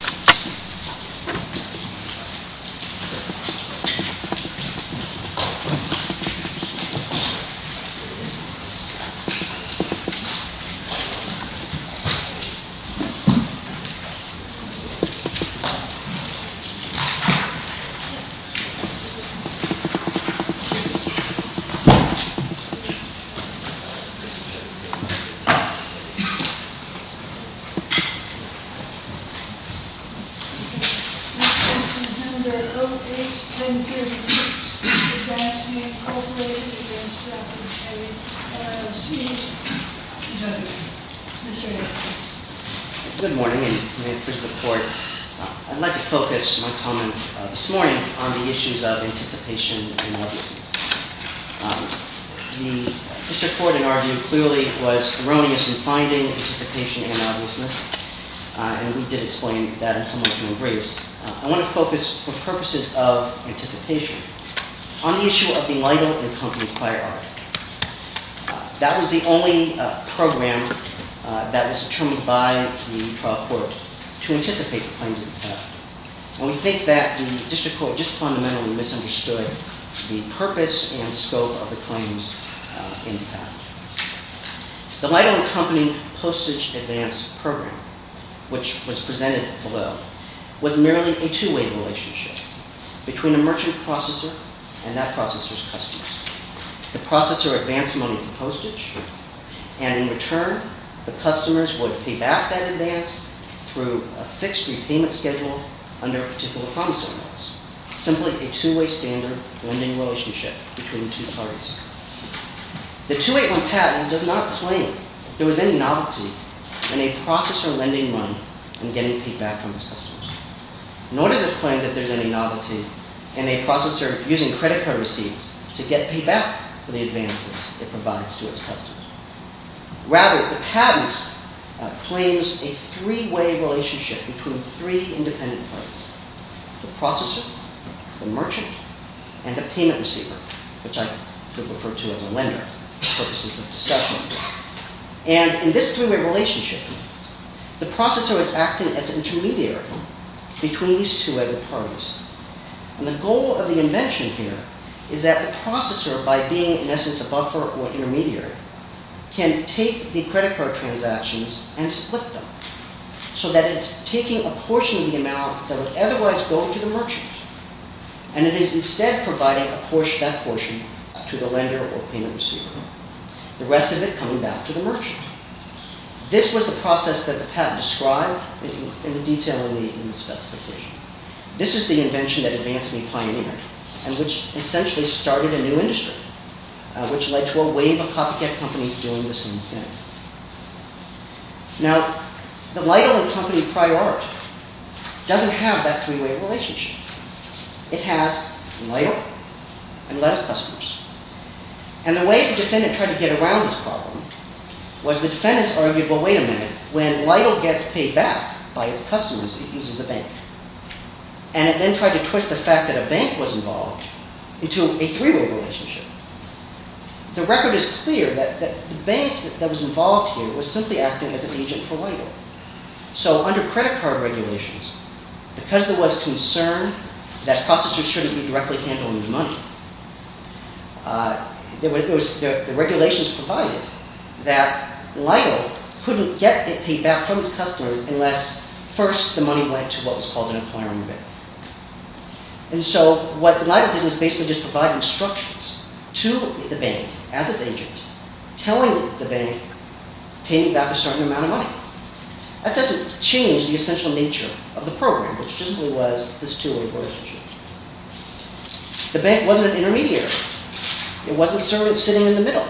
This case is No. 08-1036 for Gadsby Incorporated v. Rapidpay, LLC. Judge, Mr. Hick. Good morning, and may it please the Court. I'd like to focus my comments this morning on the issues of anticipation and obviousness. The District Court, in our view, clearly was erroneous in finding anticipation and obviousness, and we did explain that in some of the briefs. I want to focus, for purposes of anticipation, on the issue of the Lytle & Company Firearm. That was the only program that was determined by the trial court to anticipate the claims of the patent. We think that the District Court just fundamentally misunderstood the purpose and scope of the claims in the patent. The Lytle & Company postage advance program, which was presented below, was merely a two-way relationship between a merchant processor and that processor's customers. The processor advanced money for postage, and in return, the customers would pay back that advance through a fixed repayment schedule under a particular promise allowance, simply a two-way standard lending relationship between two parties. The 2-8-1 patent does not claim there was any novelty in a processor lending money and getting paid back from its customers, nor does it claim that there's any novelty in a processor using credit card receipts to get paid back for the advances it provides to its customers. Rather, the patent claims a three-way relationship between three independent parties, the processor, the merchant, and the payment receiver, which I could refer to as a lender for purposes of discussion. And in this three-way relationship, the processor is acting as an intermediary between these two other parties. And the goal of the invention here is that the processor, by being in essence a buffer or an intermediary, can take the credit card transactions and split them, so that it's taking a portion of the amount that would otherwise go to the merchant, and it is instead providing that portion to the lender or payment receiver. The rest of it coming back to the merchant. This was the process that the patent described in detail in the specification. This is the invention that advanced and pioneered, and which essentially started a new industry, which led to a wave of copycat companies doing the same thing. Now, the LIDAR company, Priorit, doesn't have that three-way relationship. It has LIDAR and less customers. And the way the defendant tried to get around this problem was the defendant's argument, well, wait a minute, when LIDAR gets paid back by its customers, it uses a bank. And it then tried to twist the fact that a bank was involved into a three-way relationship. The record is clear that the bank that was involved here was simply acting as an agent for LIDAR. So under credit card regulations, because there was concern that processors shouldn't be directly handling the money, the regulations provided that LIDAR couldn't get it paid back from its customers unless first the money went to what was called an employer in the bank. And so what LIDAR did was basically just provide instructions to the bank as its agent, telling the bank, pay me back a certain amount of money. That doesn't change the essential nature of the program, which basically was this two-way relationship. The bank wasn't an intermediary. It wasn't a servant sitting in the middle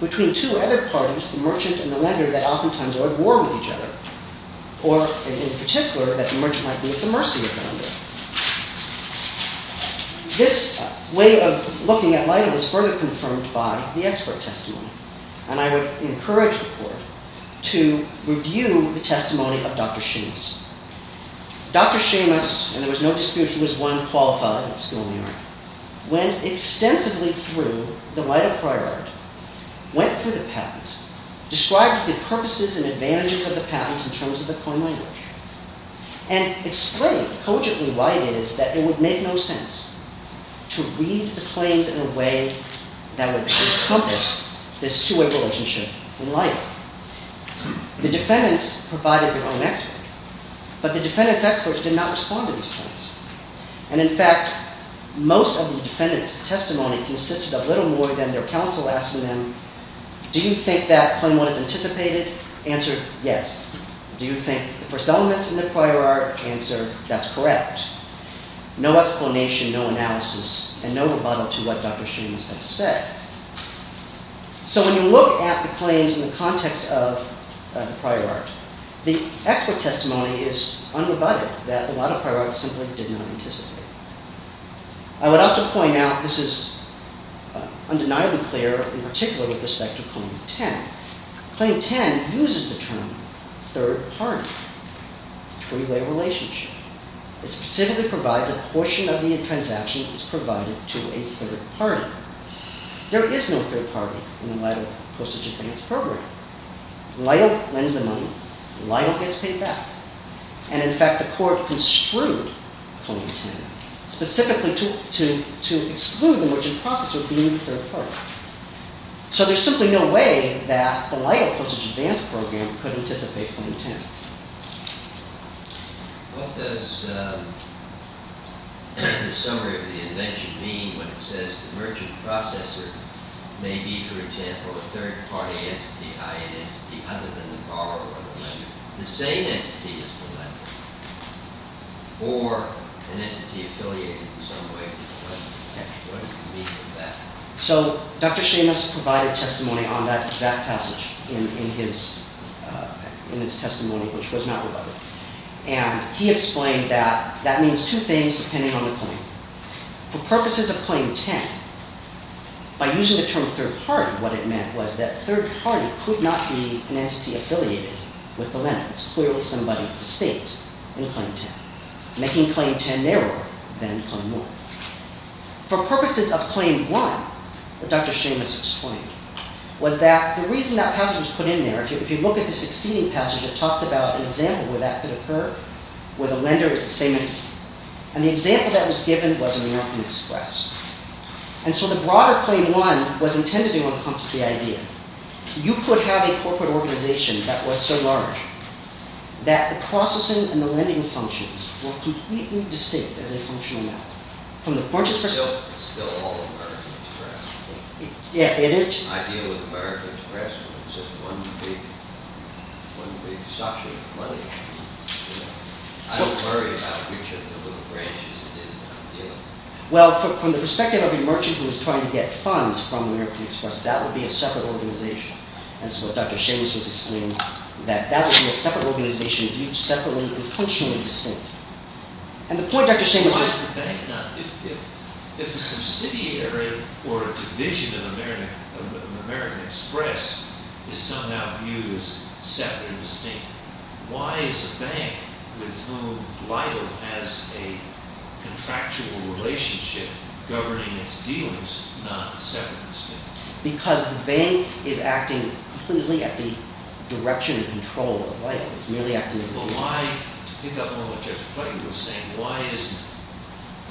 between two other parties, the merchant and the lender, that oftentimes are at war with each other. Or, in particular, that the merchant might be at the mercy of the lender. This way of looking at LIDAR was further confirmed by the expert testimony. And I would encourage the court to review the testimony of Dr. Seamus. Dr. Seamus, and there was no dispute, he was one qualified school in New York, went extensively through the LIDAR prior art, went through the patent, described the purposes and advantages of the patent in terms of the coin language, and explained cogently why it is that it would make no sense to read the claims in a way that would encompass this two-way relationship in LIDAR. The defendants provided their own expert, but the defendants' experts did not respond to these claims. And, in fact, most of the defendants' testimony consisted of little more than their counsel asking them, do you think that claim 1 is anticipated? Answered, yes. Do you think the first element's in the prior art? Answered, that's correct. No explanation, no analysis, and no rebuttal to what Dr. Seamus had said. So when you look at the claims in the context of the prior art, the expert testimony is unrebutted that a lot of prior art simply did not anticipate. I would also point out, this is undeniably clear in particular with respect to claim 10. Claim 10 uses the term third party, three-way relationship. It specifically provides a portion of the transaction that is provided to a third party. There is no third party in the LIDAR postage advance program. LIDAR lends the money. LIDAR gets paid back. And, in fact, the court construed claim 10 specifically to exclude the merchant processor being a third party. So there's simply no way that the LIDAR postage advance program could anticipate claim 10. What does the summary of the invention mean when it says the merchant processor may be, for example, a third party entity, i.e. an entity other than the borrower or the lender? The same entity as the lender or an entity affiliated in some way. What does it mean in that? So Dr. Seamus provided testimony on that exact passage in his testimony, which was not rebutted. And he explained that that means two things depending on the claim. For purposes of claim 10, by using the term third party, what it meant was that third party could not be an entity affiliated with the lender. It's clearly somebody distinct in claim 10, making claim 10 narrower than claim 1. For purposes of claim 1, what Dr. Seamus explained was that the reason that passage was put in there, if you look at the succeeding passage, it talks about an example where that could occur, where the lender is the same entity. And the example that was given was American Express. And so the broader claim 1 was intended to encompass the idea you could have a corporate organization that was so large that the processing and the lending functions were completely distinct as a functional matter. It's still all American Express. I deal with American Express with just one big suction of money. I don't worry about which of the little branches it is that I'm dealing with. Well, from the perspective of a merchant who is trying to get funds from American Express, that would be a separate organization. That's what Dr. Seamus was explaining, that that would be a separate organization viewed separately and functionally distinct. And the point Dr. Seamus made… Why is the bank not… if a subsidiary or a division of American Express is somehow viewed as separate and distinct, why is a bank with whom LIDL has a contractual relationship governing its dealings not separate and distinct? Because the bank is acting completely at the direction and control of LIDL. It's merely acting as its own… To pick up on what Judge Clayton was saying, why isn't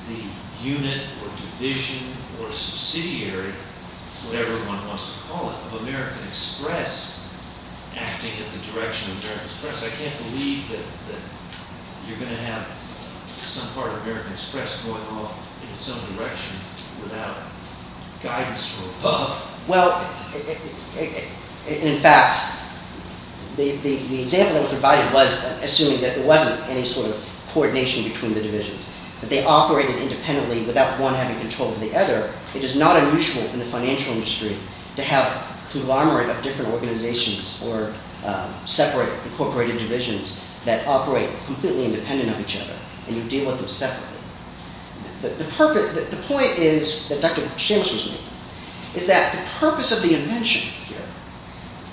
the unit or division or subsidiary, whatever one wants to call it, of American Express acting at the direction of American Express? I can't believe that you're going to have some part of American Express going off in some direction without guidance from above. Well, in fact, the example that was provided was assuming that there wasn't any sort of coordination between the divisions, that they operated independently without one having control of the other. It is not unusual in the financial industry to have a conglomerate of different organizations or separate incorporated divisions that operate completely independent of each other, and you deal with them separately. The point is, that Dr. Seamus was making, is that the purpose of the invention here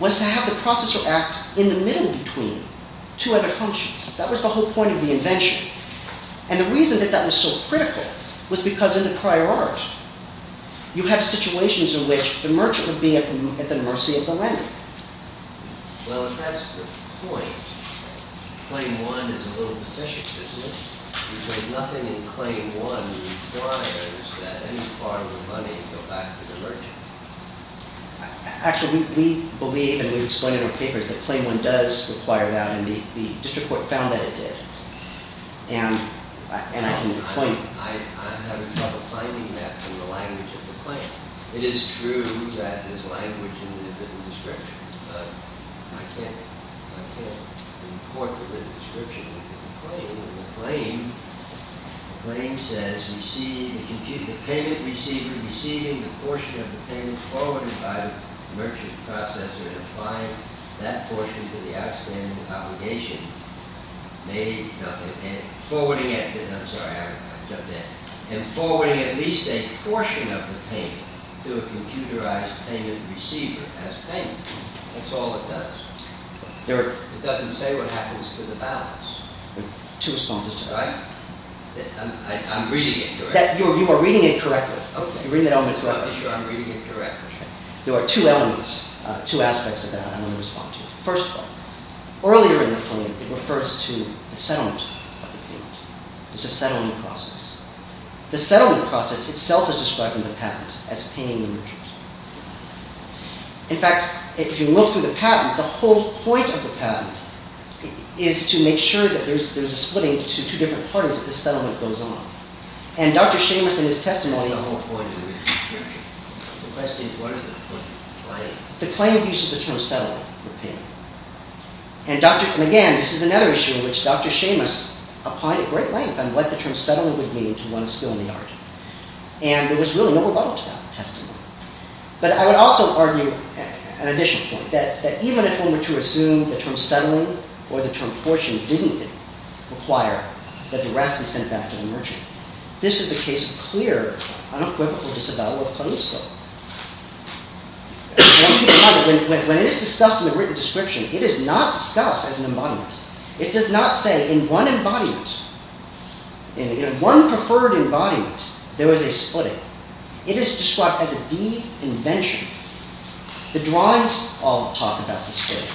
was to have the processor act in the middle between two other functions. That was the whole point of the invention. And the reason that that was so critical was because in the prior art, you have situations in which the merchant would be at the mercy of the lender. Well, if that's the point, claim one is a little deficient, isn't it? Because nothing in claim one requires that any part of the money go back to the merchant. Actually, we believe, and we've explained in our papers, that claim one does require that, and the district court found that it did. And I can claim it. I'm having trouble finding that in the language of the claim. It is true that there's language in the written description, but I can't import the written description into the claim. In the claim, the claim says, the payment receiver receiving the portion of the payment forwarded by the merchant processor and applying that portion to the outstanding obligation, forwarding at least a portion of the payment to a computerized payment receiver as payment. That's all it does. It doesn't say what happens to the balance. Two responses to that. I'm reading it correctly. You are reading it correctly. I'm reading it correctly. There are two elements, two aspects of that I'm going to respond to. First of all, earlier in the claim, it refers to the settlement of the payment. There's a settling process. The settling process itself is describing the patent as paying the merchant. In fact, if you look through the patent, the whole point of the patent is to make sure that there's a splitting to two different parties if the settlement goes on. And Dr. Seamus in his testimony… The question is, what is the point of the claim? The claim uses the term settling for payment. And again, this is another issue in which Dr. Seamus applied at great length on what the term settling would mean to one still in the argument. And there was really no rebuttal to that testimony. But I would also argue an additional point, that even if one were to assume the term settling or the term portion didn't require that the rest be sent back to the merchant, this is a case of clear, unequivocal disavowal of claims here. When it is discussed in the written description, it is not discussed as an embodiment. It does not say in one embodiment, in one preferred embodiment, there is a splitting. It is described as a de-invention. The drawings all talk about the splitting.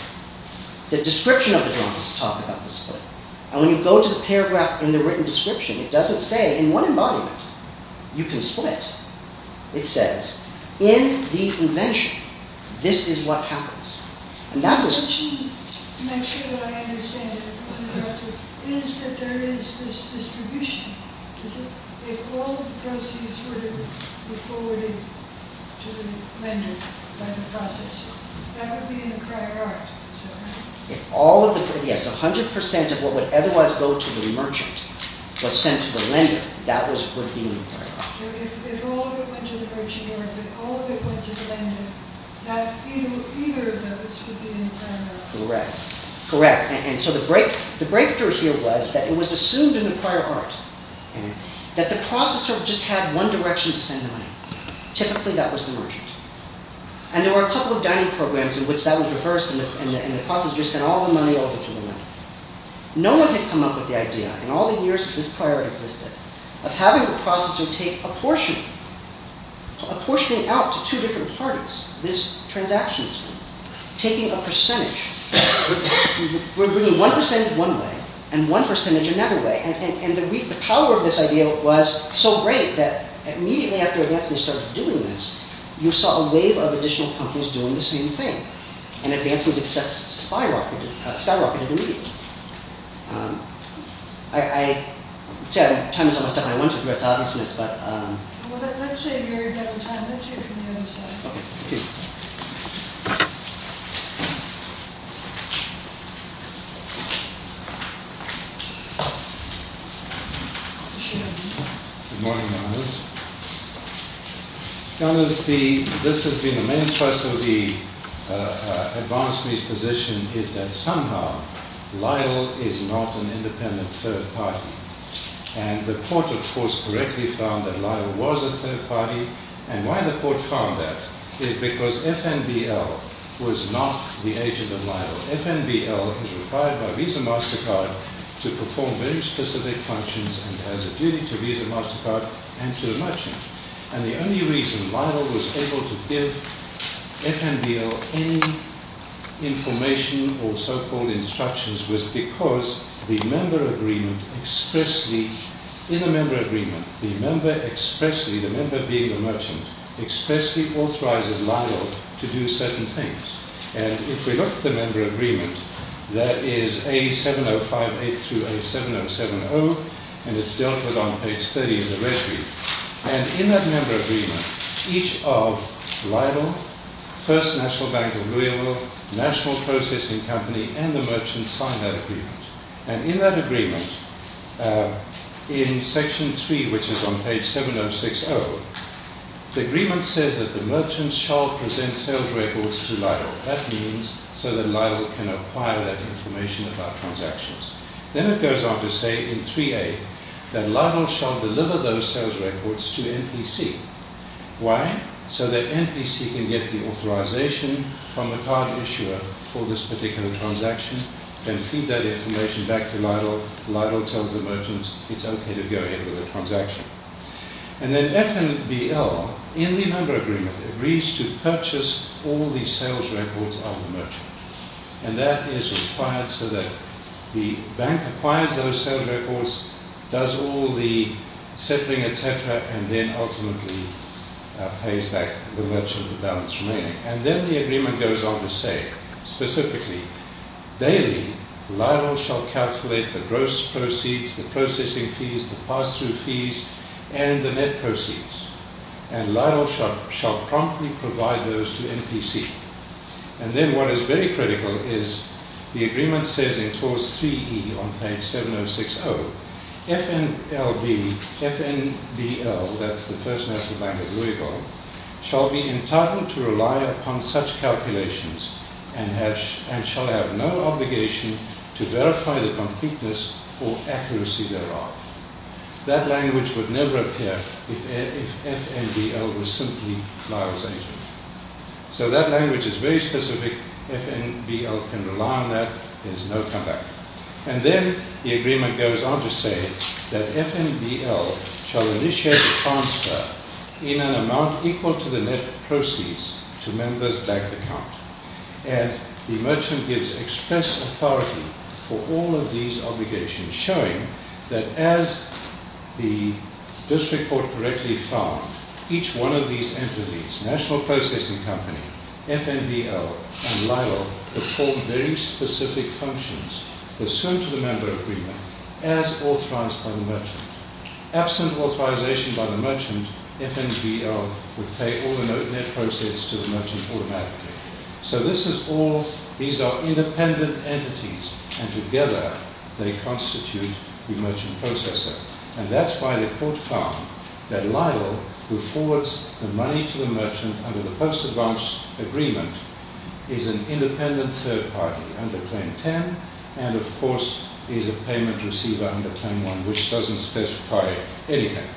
The description of the drawings talk about the splitting. And when you go to the paragraph in the written description, it doesn't say in one embodiment, you can split. It says, in the invention, this is what happens. The question, to make sure that I understand it, is that there is this distribution. If all the proceeds were to be forwarded to the lender by the processer, that would be in the prior art. Yes, if 100% of what would otherwise go to the merchant was sent to the lender, that would be in the prior art. If all of it went to the merchant, or if all of it went to the lender, then either of those would be in the prior art. Correct. Correct. And so the breakthrough here was that it was assumed in the prior art that the processor just had one direction to send the money. Typically, that was the merchant. And there were a couple of dining programs in which that was reversed, and the processer just sent all the money over to the lender. No one had come up with the idea, in all the years this prior art existed, of having the processor take a portion, apportioning it out to two different parties, this transaction stream, taking a percentage. We're bringing one percentage one way, and one percentage another way. And the power of this idea was so great that immediately after Advancement started doing this, you saw a wave of additional companies doing the same thing. And Advancement's success skyrocketed immediately. I'm almost done. I want to address all of this. Well, let's save your time. Let's hear from the other side. Okay. Thank you. Good morning, Janice. Janice, this has been the main thrust of the Advancement's position is that somehow LIDL is not an independent third party. And the court, of course, correctly found that LIDL was a third party. And why the court found that is because FNBL was not the agent of LIDL. FNBL is required by Visa MasterCard to perform very specific functions and has a duty to Visa MasterCard and to the merchant. And the only reason LIDL was able to give FNBL any information or so-called instructions was because the member agreement expressly, in a member agreement, the member expressly, the member being a merchant, expressly authorizes LIDL to do certain things. And if we look at the member agreement, that is A7058 through A7070, and it's dealt with on page 30 of the red brief. And in that member agreement, each of LIDL, First National Bank of Louisville, National Processing Company, and the merchant sign that agreement. And in that agreement, in section three, which is on page 7060, the agreement says that the merchant shall present sales records to LIDL. That means so that LIDL can acquire that information about transactions. Then it goes on to say in 3A that LIDL shall deliver those sales records to MPC. Why? So that MPC can get the authorization from the card issuer for this particular transaction and feed that information back to LIDL. LIDL tells the merchant it's okay to go ahead with the transaction. And then FNBL, in the member agreement, agrees to purchase all the sales records of the merchant. And that is required so that the bank acquires those sales records, does all the settling, etc., and then ultimately pays back the merchant the balance remaining. And then the agreement goes on to say, specifically, daily, LIDL shall calculate the gross proceeds, the processing fees, the pass-through fees, and the net proceeds. And LIDL shall promptly provide those to MPC. And then what is very critical is the agreement says in clause 3E on page 7060, FNBL, that's the First National Bank of Louisville, shall be entitled to rely upon such calculations and shall have no obligation to verify the completeness or accuracy thereof. That language would never appear if FNBL was simply LIDL's agent. So that language is very specific. FNBL can rely on that. There's no comeback. And then the agreement goes on to say that FNBL shall initiate a transfer in an amount equal to the net proceeds to members' bank account. And the merchant gives express authority for all of these obligations, showing that as the district court correctly found, each one of these entities, National Processing Company, FNBL, and LIDL, perform very specific functions pursuant to the member agreement as authorized by the merchant. Absent authorization by the merchant, FNBL would pay all the net proceeds to the merchant automatically. So these are independent entities, and together they constitute the merchant processor. And that's why the court found that LIDL, who forwards the money to the merchant under the post-advance agreement, is an independent third party under Claim 10, and of course is a payment receiver under Claim 1, which doesn't specify anything.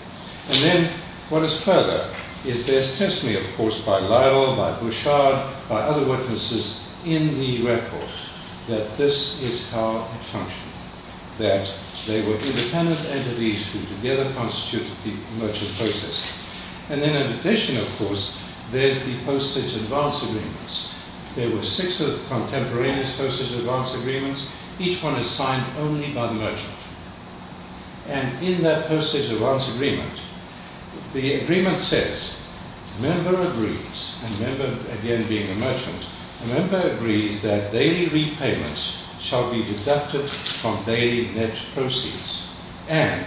And then what is further is there's testimony, of course, by LIDL, by Bouchard, by other witnesses in the record, that this is how it functioned, that they were independent entities who together constituted the merchant processor. And then in addition, of course, there's the postage advance agreements. There were six contemporaneous postage advance agreements. Each one is signed only by the merchant. And in that postage advance agreement, the agreement says, a member agrees, a member again being a merchant, a member agrees that daily repayments shall be deducted from daily net proceeds, and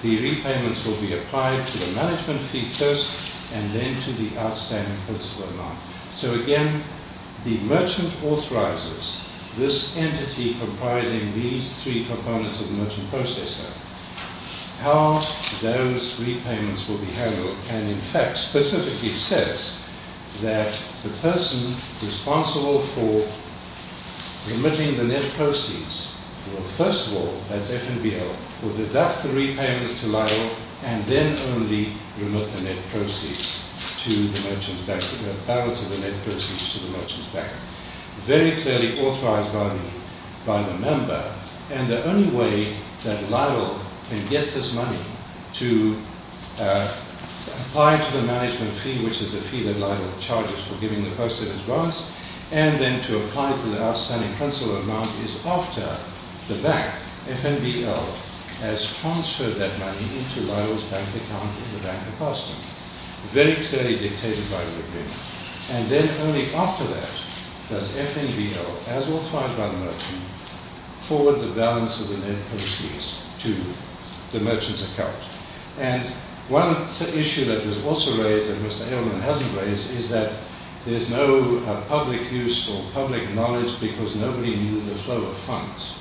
the repayments will be applied to the management fee first, and then to the outstanding principal amount. So again, the merchant authorizes this entity comprising these three components of the merchant processor how those repayments will be handled, and in fact specifically says that the person responsible for remitting the net proceeds will first of all, that's FNBL, will deduct the repayments to LIDL and then only remit the net proceeds to the merchant's bank, the balance of the net proceeds to the merchant's bank. Very clearly authorized by the member, and the only way that LIDL can get this money to apply to the management fee, which is the fee that LIDL charges for giving the postage advance, and then to apply to the outstanding principal amount is after the bank, FNBL, has transferred that money into LIDL's bank account in the Bank of Boston. Very clearly dictated by the agreement. And then only after that, does FNBL, as authorized by the merchant, forward the balance of the net proceeds to the merchant's account. And one issue that was also raised, and Mr. Aylman hasn't raised, is that there's no public use or public knowledge because nobody knew the flow of funds.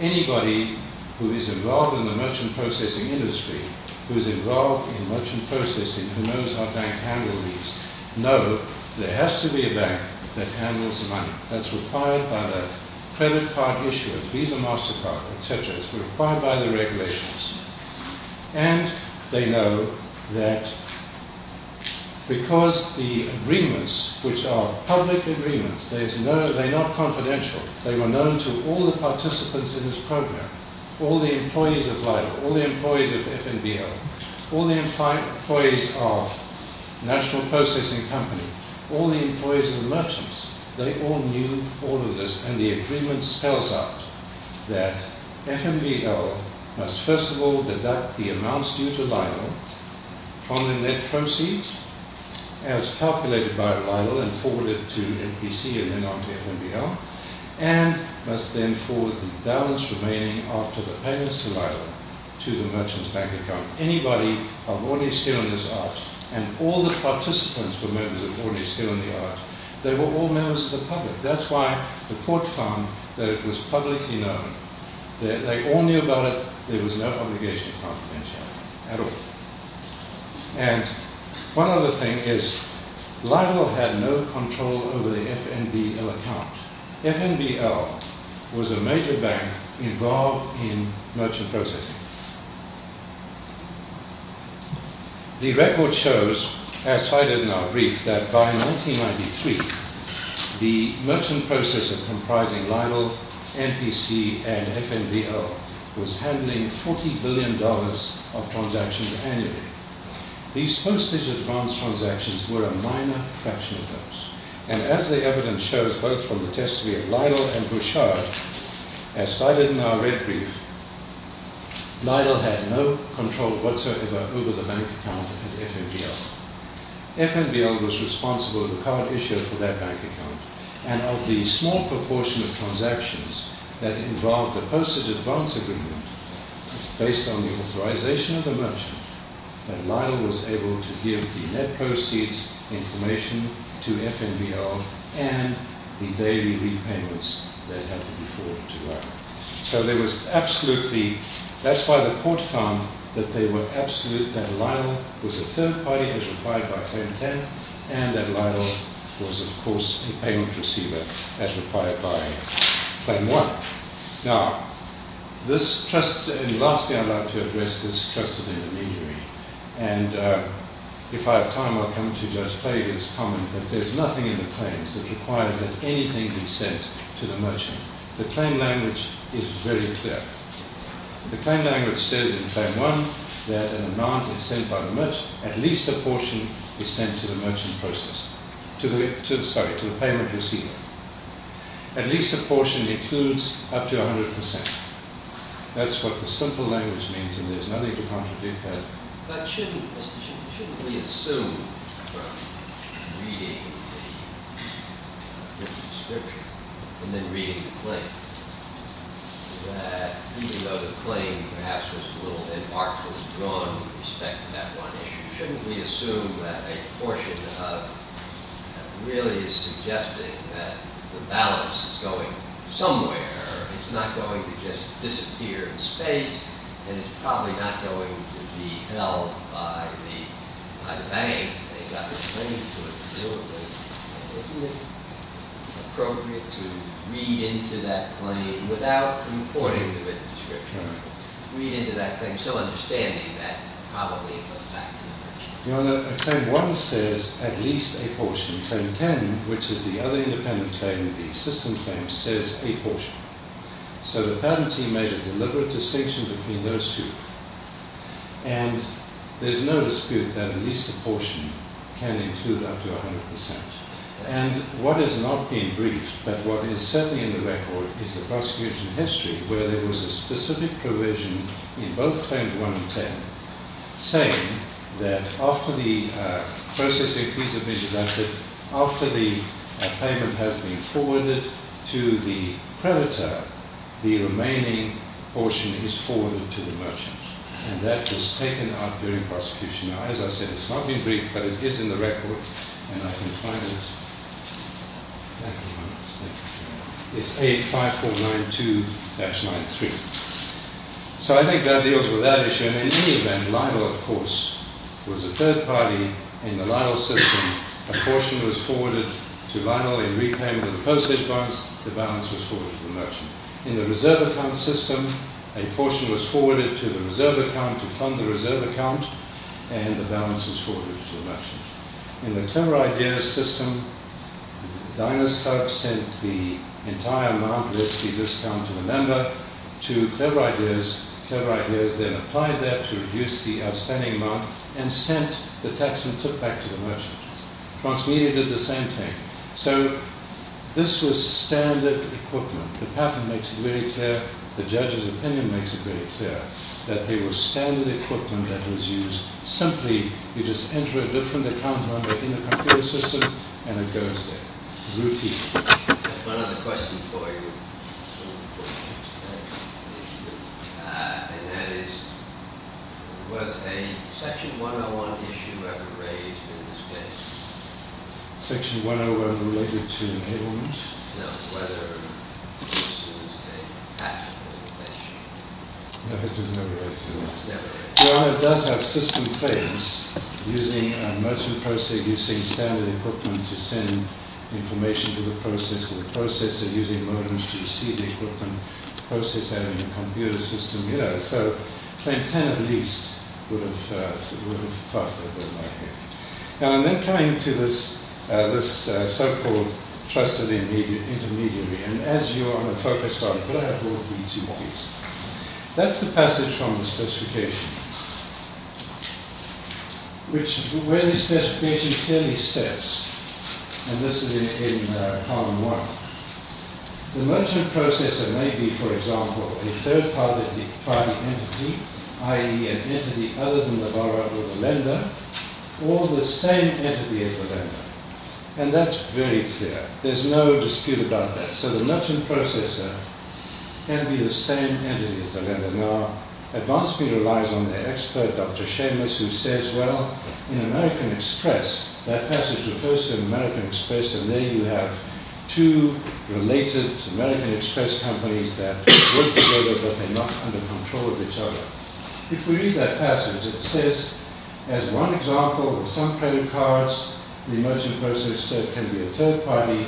Anybody who is involved in the merchant processing industry, who is involved in merchant processing, who knows how banks handle these, knows there has to be a bank that handles the money. That's required by the credit card issuer, Visa, MasterCard, etc. It's required by the regulations. And they know that because the agreements, which are public agreements, they're not confidential, they were known to all the participants in this program, all the employees of LIDL, all the employees of FNBL, all the employees of National Processing Company, all the employees of the merchants, they all knew all of this. And the agreement spells out that FNBL must first of all deduct the amounts due to LIDL from the net proceeds as calculated by LIDL and forward it to NPC and then on to FNBL, and must then forward the balance remaining after the payments to LIDL to the merchant's bank account. Anybody of ordinary skill in this art, and all the participants were members of ordinary skill in the art, they were all members of the public. That's why the court found that it was publicly known. They all knew about it. There was no obligation of confidentiality at all. And one other thing is LIDL had no control over the FNBL account. FNBL was a major bank involved in merchant processing. The record shows, as cited in our brief, that by 1993, the merchant processor comprising LIDL, NPC and FNBL was handling $40 billion of transactions annually. These postage advance transactions were a minor fraction of those. And as the evidence shows, both from the testimony of LIDL and Bouchard, as cited in our red brief, LIDL had no control whatsoever over the bank account at FNBL. FNBL was responsible for the card issue for that bank account. And of the small proportion of transactions that involved the postage advance agreement, it's based on the authorization of the merchant that LIDL was able to give the net proceeds information to FNBL and the daily repayments that happened before to LIDL. That's why the court found that LIDL was a third party as required by Claim 10, and that LIDL was, of course, a payment receiver as required by Claim 1. Now, lastly, I'd like to address this trust of intermediary. And if I have time, I'll come to Judge Clay's comment that there's nothing in the claims that requires that anything be sent to the merchant. The claim language is very clear. The claim language says in Claim 1 that an amount is sent by the merchant, at least a portion is sent to the payment receiver. At least a portion includes up to 100%. That's what the simple language means, and there's nothing to contradict that. But shouldn't we assume from reading the description, and then reading the claim, that even though the claim, perhaps, was a little bit artfully drawn with respect to that one issue, shouldn't we assume that a portion of it really is suggesting that the balance is going somewhere? It's not going to just disappear in space, and it's probably not going to be held by the bank. They've got the claim to it. Isn't it appropriate to read into that claim without importing the business description? Read into that claim, still understanding that probably it was back to the merchant. Claim 1 says at least a portion. Claim 10, which is the other independent claim, the system claim, says a portion. So the patent team made a deliberate distinction between those two, and there's no dispute that at least a portion can include up to 100%. And what is not being briefed, but what is certainly in the record, is the prosecution history where there was a specific provision in both Claim 1 and 10 saying that after the processing fees have been deducted, after the payment has been forwarded to the predator, the remaining portion is forwarded to the merchant. And that was taken out during prosecution. Now, as I said, it's not being briefed, but it is in the record, and I can find it. It's 85492-93. So I think that deals with that issue. And in any event, Lionel, of course, was a third party in the Lionel system. A portion was forwarded to Lionel in repayment of the postage bonds. The balance was forwarded to the merchant. In the reserve account system, a portion was forwarded to the reserve account to fund the reserve account, and the balance was forwarded to the merchant. In the clever ideas system, Dinoscope sent the entire Mount Risky discount to a member, to Clever Ideas. Clever Ideas then applied that to reduce the outstanding amount and sent the tax and tip back to the merchant. Transmedia did the same thing. So this was standard equipment. The patent makes it very clear. The judge's opinion makes it very clear that they were standard equipment that was used simply. You just enter a different account number in the computer system, and it goes there, routine. I have one other question for you. And that is, was a Section 101 issue ever raised in this case? Section 101 related to enablement? No, whether this was a patentable issue. No, it was never raised. It does have system claims, using merchant processing, using standard equipment to send information to the processor, the processor using modems to receive equipment, the processor having a computer system, you know, so claim 10 at least would have passed that bill by here. And then coming to this so-called trusted intermediary, and as you are the focus, I'm going to have more for you to eat. That's the passage from the specification, where the specification clearly says, and this is in Column 1, the merchant processor may be, for example, a third-party entity, i.e. an entity other than the borrower or the lender, or the same entity as the lender. And that's very clear. There's no dispute about that. So the merchant processor can be the same entity as the lender. Now, advance me relies on the expert, Dr. Seamus, who says, well, in American Express, that passage refers to American Express, and there you have two related American Express companies that work together, but they're not under control of each other. If we read that passage, it says, as one example, with some credit cards, the merchant processor can be a third-party.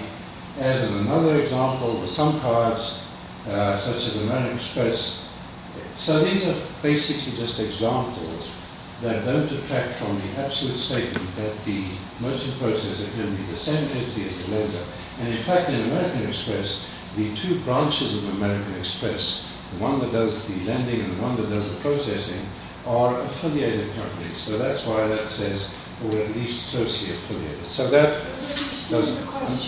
As in another example, with some cards, such as American Express. So these are basically just examples that don't detract from the absolute statement that the merchant processor can be the same entity as the lender. And in fact, in American Express, the two branches of American Express, the one that does the lending and the one that does the processing, are affiliated companies. So that's why that says, or at least closely affiliated. So that goes on. There's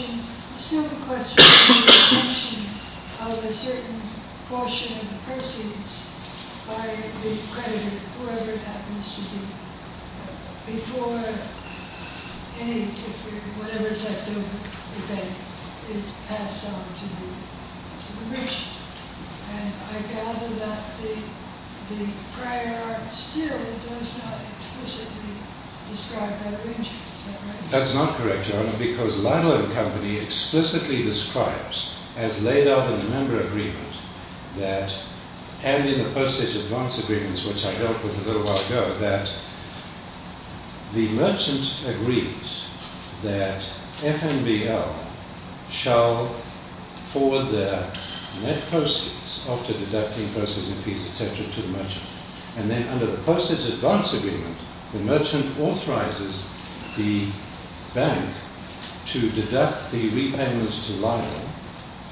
still the question of the assumption of a certain portion of the proceeds by the creditor, whoever it happens to be, before any, whatever's left over, is passed on to the merchant. And I gather that the prior art still does not explicitly describe that arrangement, does that make sense? That's not correct, Your Honor, because Ludlow & Company explicitly describes, as laid out in the member agreement, that, as in the postage advance agreements, which I dealt with a little while ago, that the merchant agrees that FNBL shall forward their net proceeds after deducting postage and fees, et cetera, to the merchant. And then under the postage advance agreement, the merchant authorizes the bank to deduct the repayments to Lyle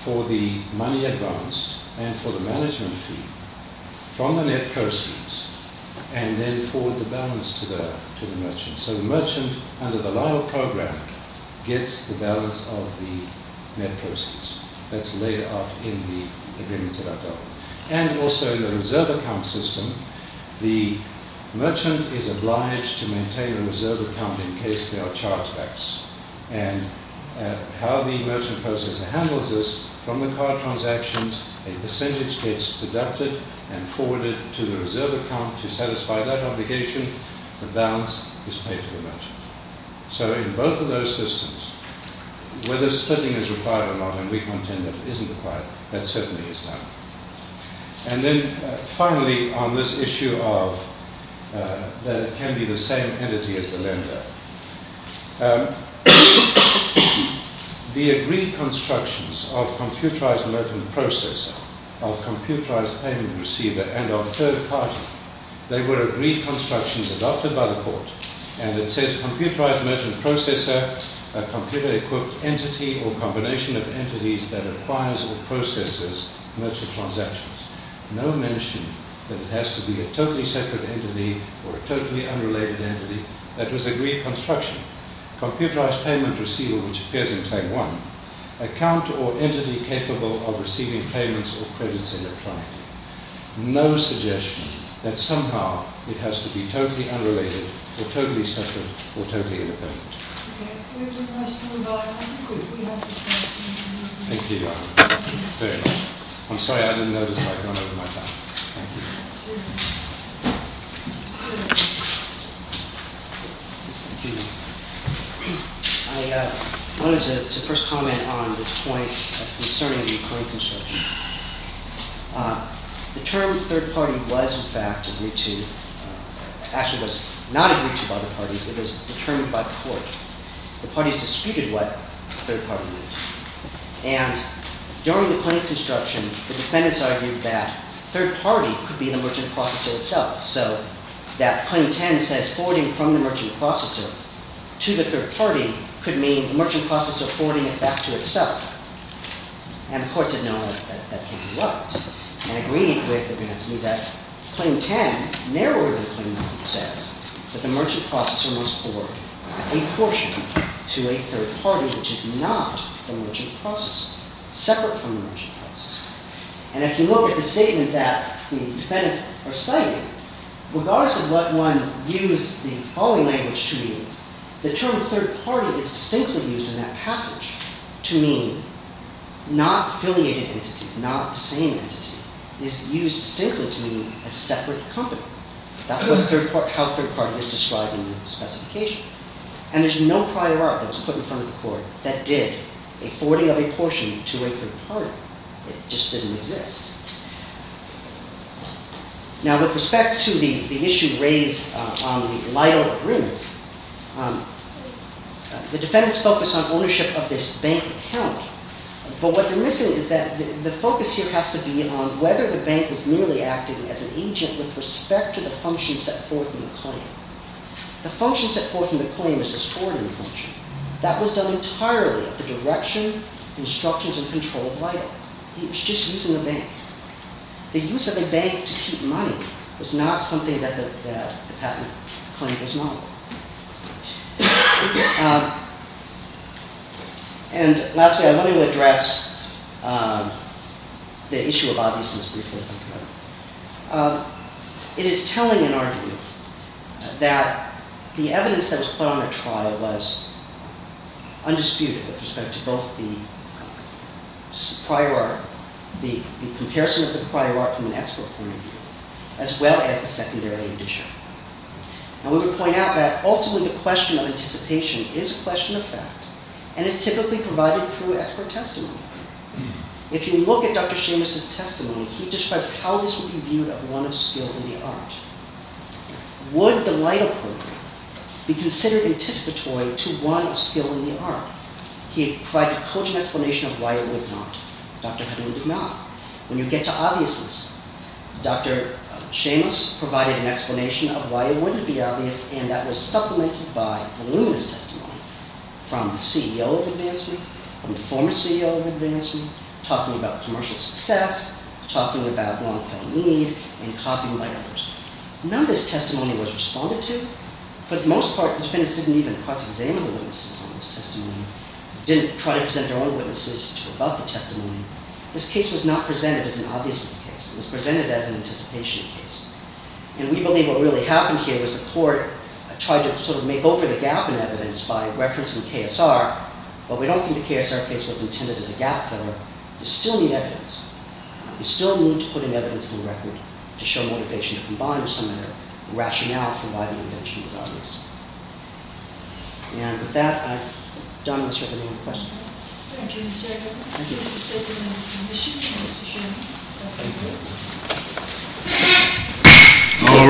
for the money advanced and for the management fee from the net proceeds and then forward the balance to the merchant. So the merchant, under the Lyle program, gets the balance of the net proceeds. That's laid out in the agreements that I dealt with. And also in the reserve account system, the merchant is obliged to maintain a reserve account in case there are chargebacks. And how the merchant processor handles this, from the card transactions, a percentage gets deducted and forwarded to the reserve account to satisfy that obligation. The balance is paid to the merchant. So in both of those systems, whether splitting is required or not, and we contend that it isn't required, that certainly is Lyle. And then, finally, on this issue of that it can be the same entity as the lender, the agreed constructions of computerized merchant processor, of computerized payment receiver, and of third party, they were agreed constructions adopted by the court, and it says computerized merchant processor, a completely equipped entity or combination of entities that acquires or processes merchant transactions. No mention that it has to be a totally separate entity or a totally unrelated entity. That was agreed construction. Computerized payment receiver, which appears in claim one, account or entity capable of receiving payments or credits electronically. No suggestion that somehow it has to be totally unrelated or totally separate or totally independent. We have time for one more question. Thank you. I'm sorry, I didn't notice I'd run out of my time. Thank you. I wanted to first comment on this point concerning the claim construction. The term third party was, in fact, agreed to. Actually, it was not agreed to by the parties. It was determined by the court. The parties disputed what third party meant. And during the claim construction, the defendants argued that third party could be the merchant processor itself, so that claim 10 says forwarding from the merchant processor to the third party could mean the merchant processor forwarding it back to itself. And the courts had known that that could be what. And agreeing it with the defense meant that claim 10, narrower than claim 9, says that the merchant processor must forward a portion to a third party which is not the merchant processor, separate from the merchant processor. And if you look at the statement that the defendants are citing, regardless of what one views the following language to mean, the term third party is distinctly used in that passage to mean not affiliated entities, not the same entity, is used distinctly to mean a separate company. That's how third party is described in the specification. And there's no prior art that was put in front of the court that did a forwarding of a portion to a third party. It just didn't exist. Now with respect to the issue raised on the Lido agreement, the defendants focus on ownership of this bank account. But what they're missing is that the focus here has to be on whether the bank was merely acting as an agent with respect to the function set forth in the claim. The function set forth in the claim is this forwarding function. That was done entirely at the direction, instructions, and control of Lido. It was just using the bank. The use of a bank to keep money was not something that the patent claim was modeled. And lastly, I want to address the issue of obviousness briefly. It is telling in our view that the evidence that was put on the trial was undisputed with respect to both the comparison of the prior art from an expert point of view as well as the secondary edition. And we would point out that ultimately the question of anticipation is a question of fact and is typically provided through expert testimony. If you look at Dr. Seamus' testimony, he describes how this would be viewed as one of skill in the art. Would the Lido program be considered anticipatory to one of skill in the art? He provided a cogent explanation of why it would not. Dr. Hedlund did not. When you get to obviousness, Dr. Seamus provided an explanation of why it wouldn't be obvious, and that was supplemented by voluminous testimony from the CEO of AdvanceWeek, from the former CEO of AdvanceWeek, talking about commercial success, talking about long-term need, and copying by others. None of this testimony was responded to, but for the most part, defendants didn't even cross-examine the witnesses on this testimony, didn't try to present their own witnesses to rebut the testimony. This case was not presented as an obviousness case. It was presented as an anticipation case. And we believe what really happened here was the court tried to sort of make over the gap in evidence by referencing KSR, but we don't think the KSR case was intended as a gap filler. You still need evidence. You still need to put in evidence and record to show motivation to combine with some of the rationale for why the invention was obvious. And with that, I've done this. Are there any more questions?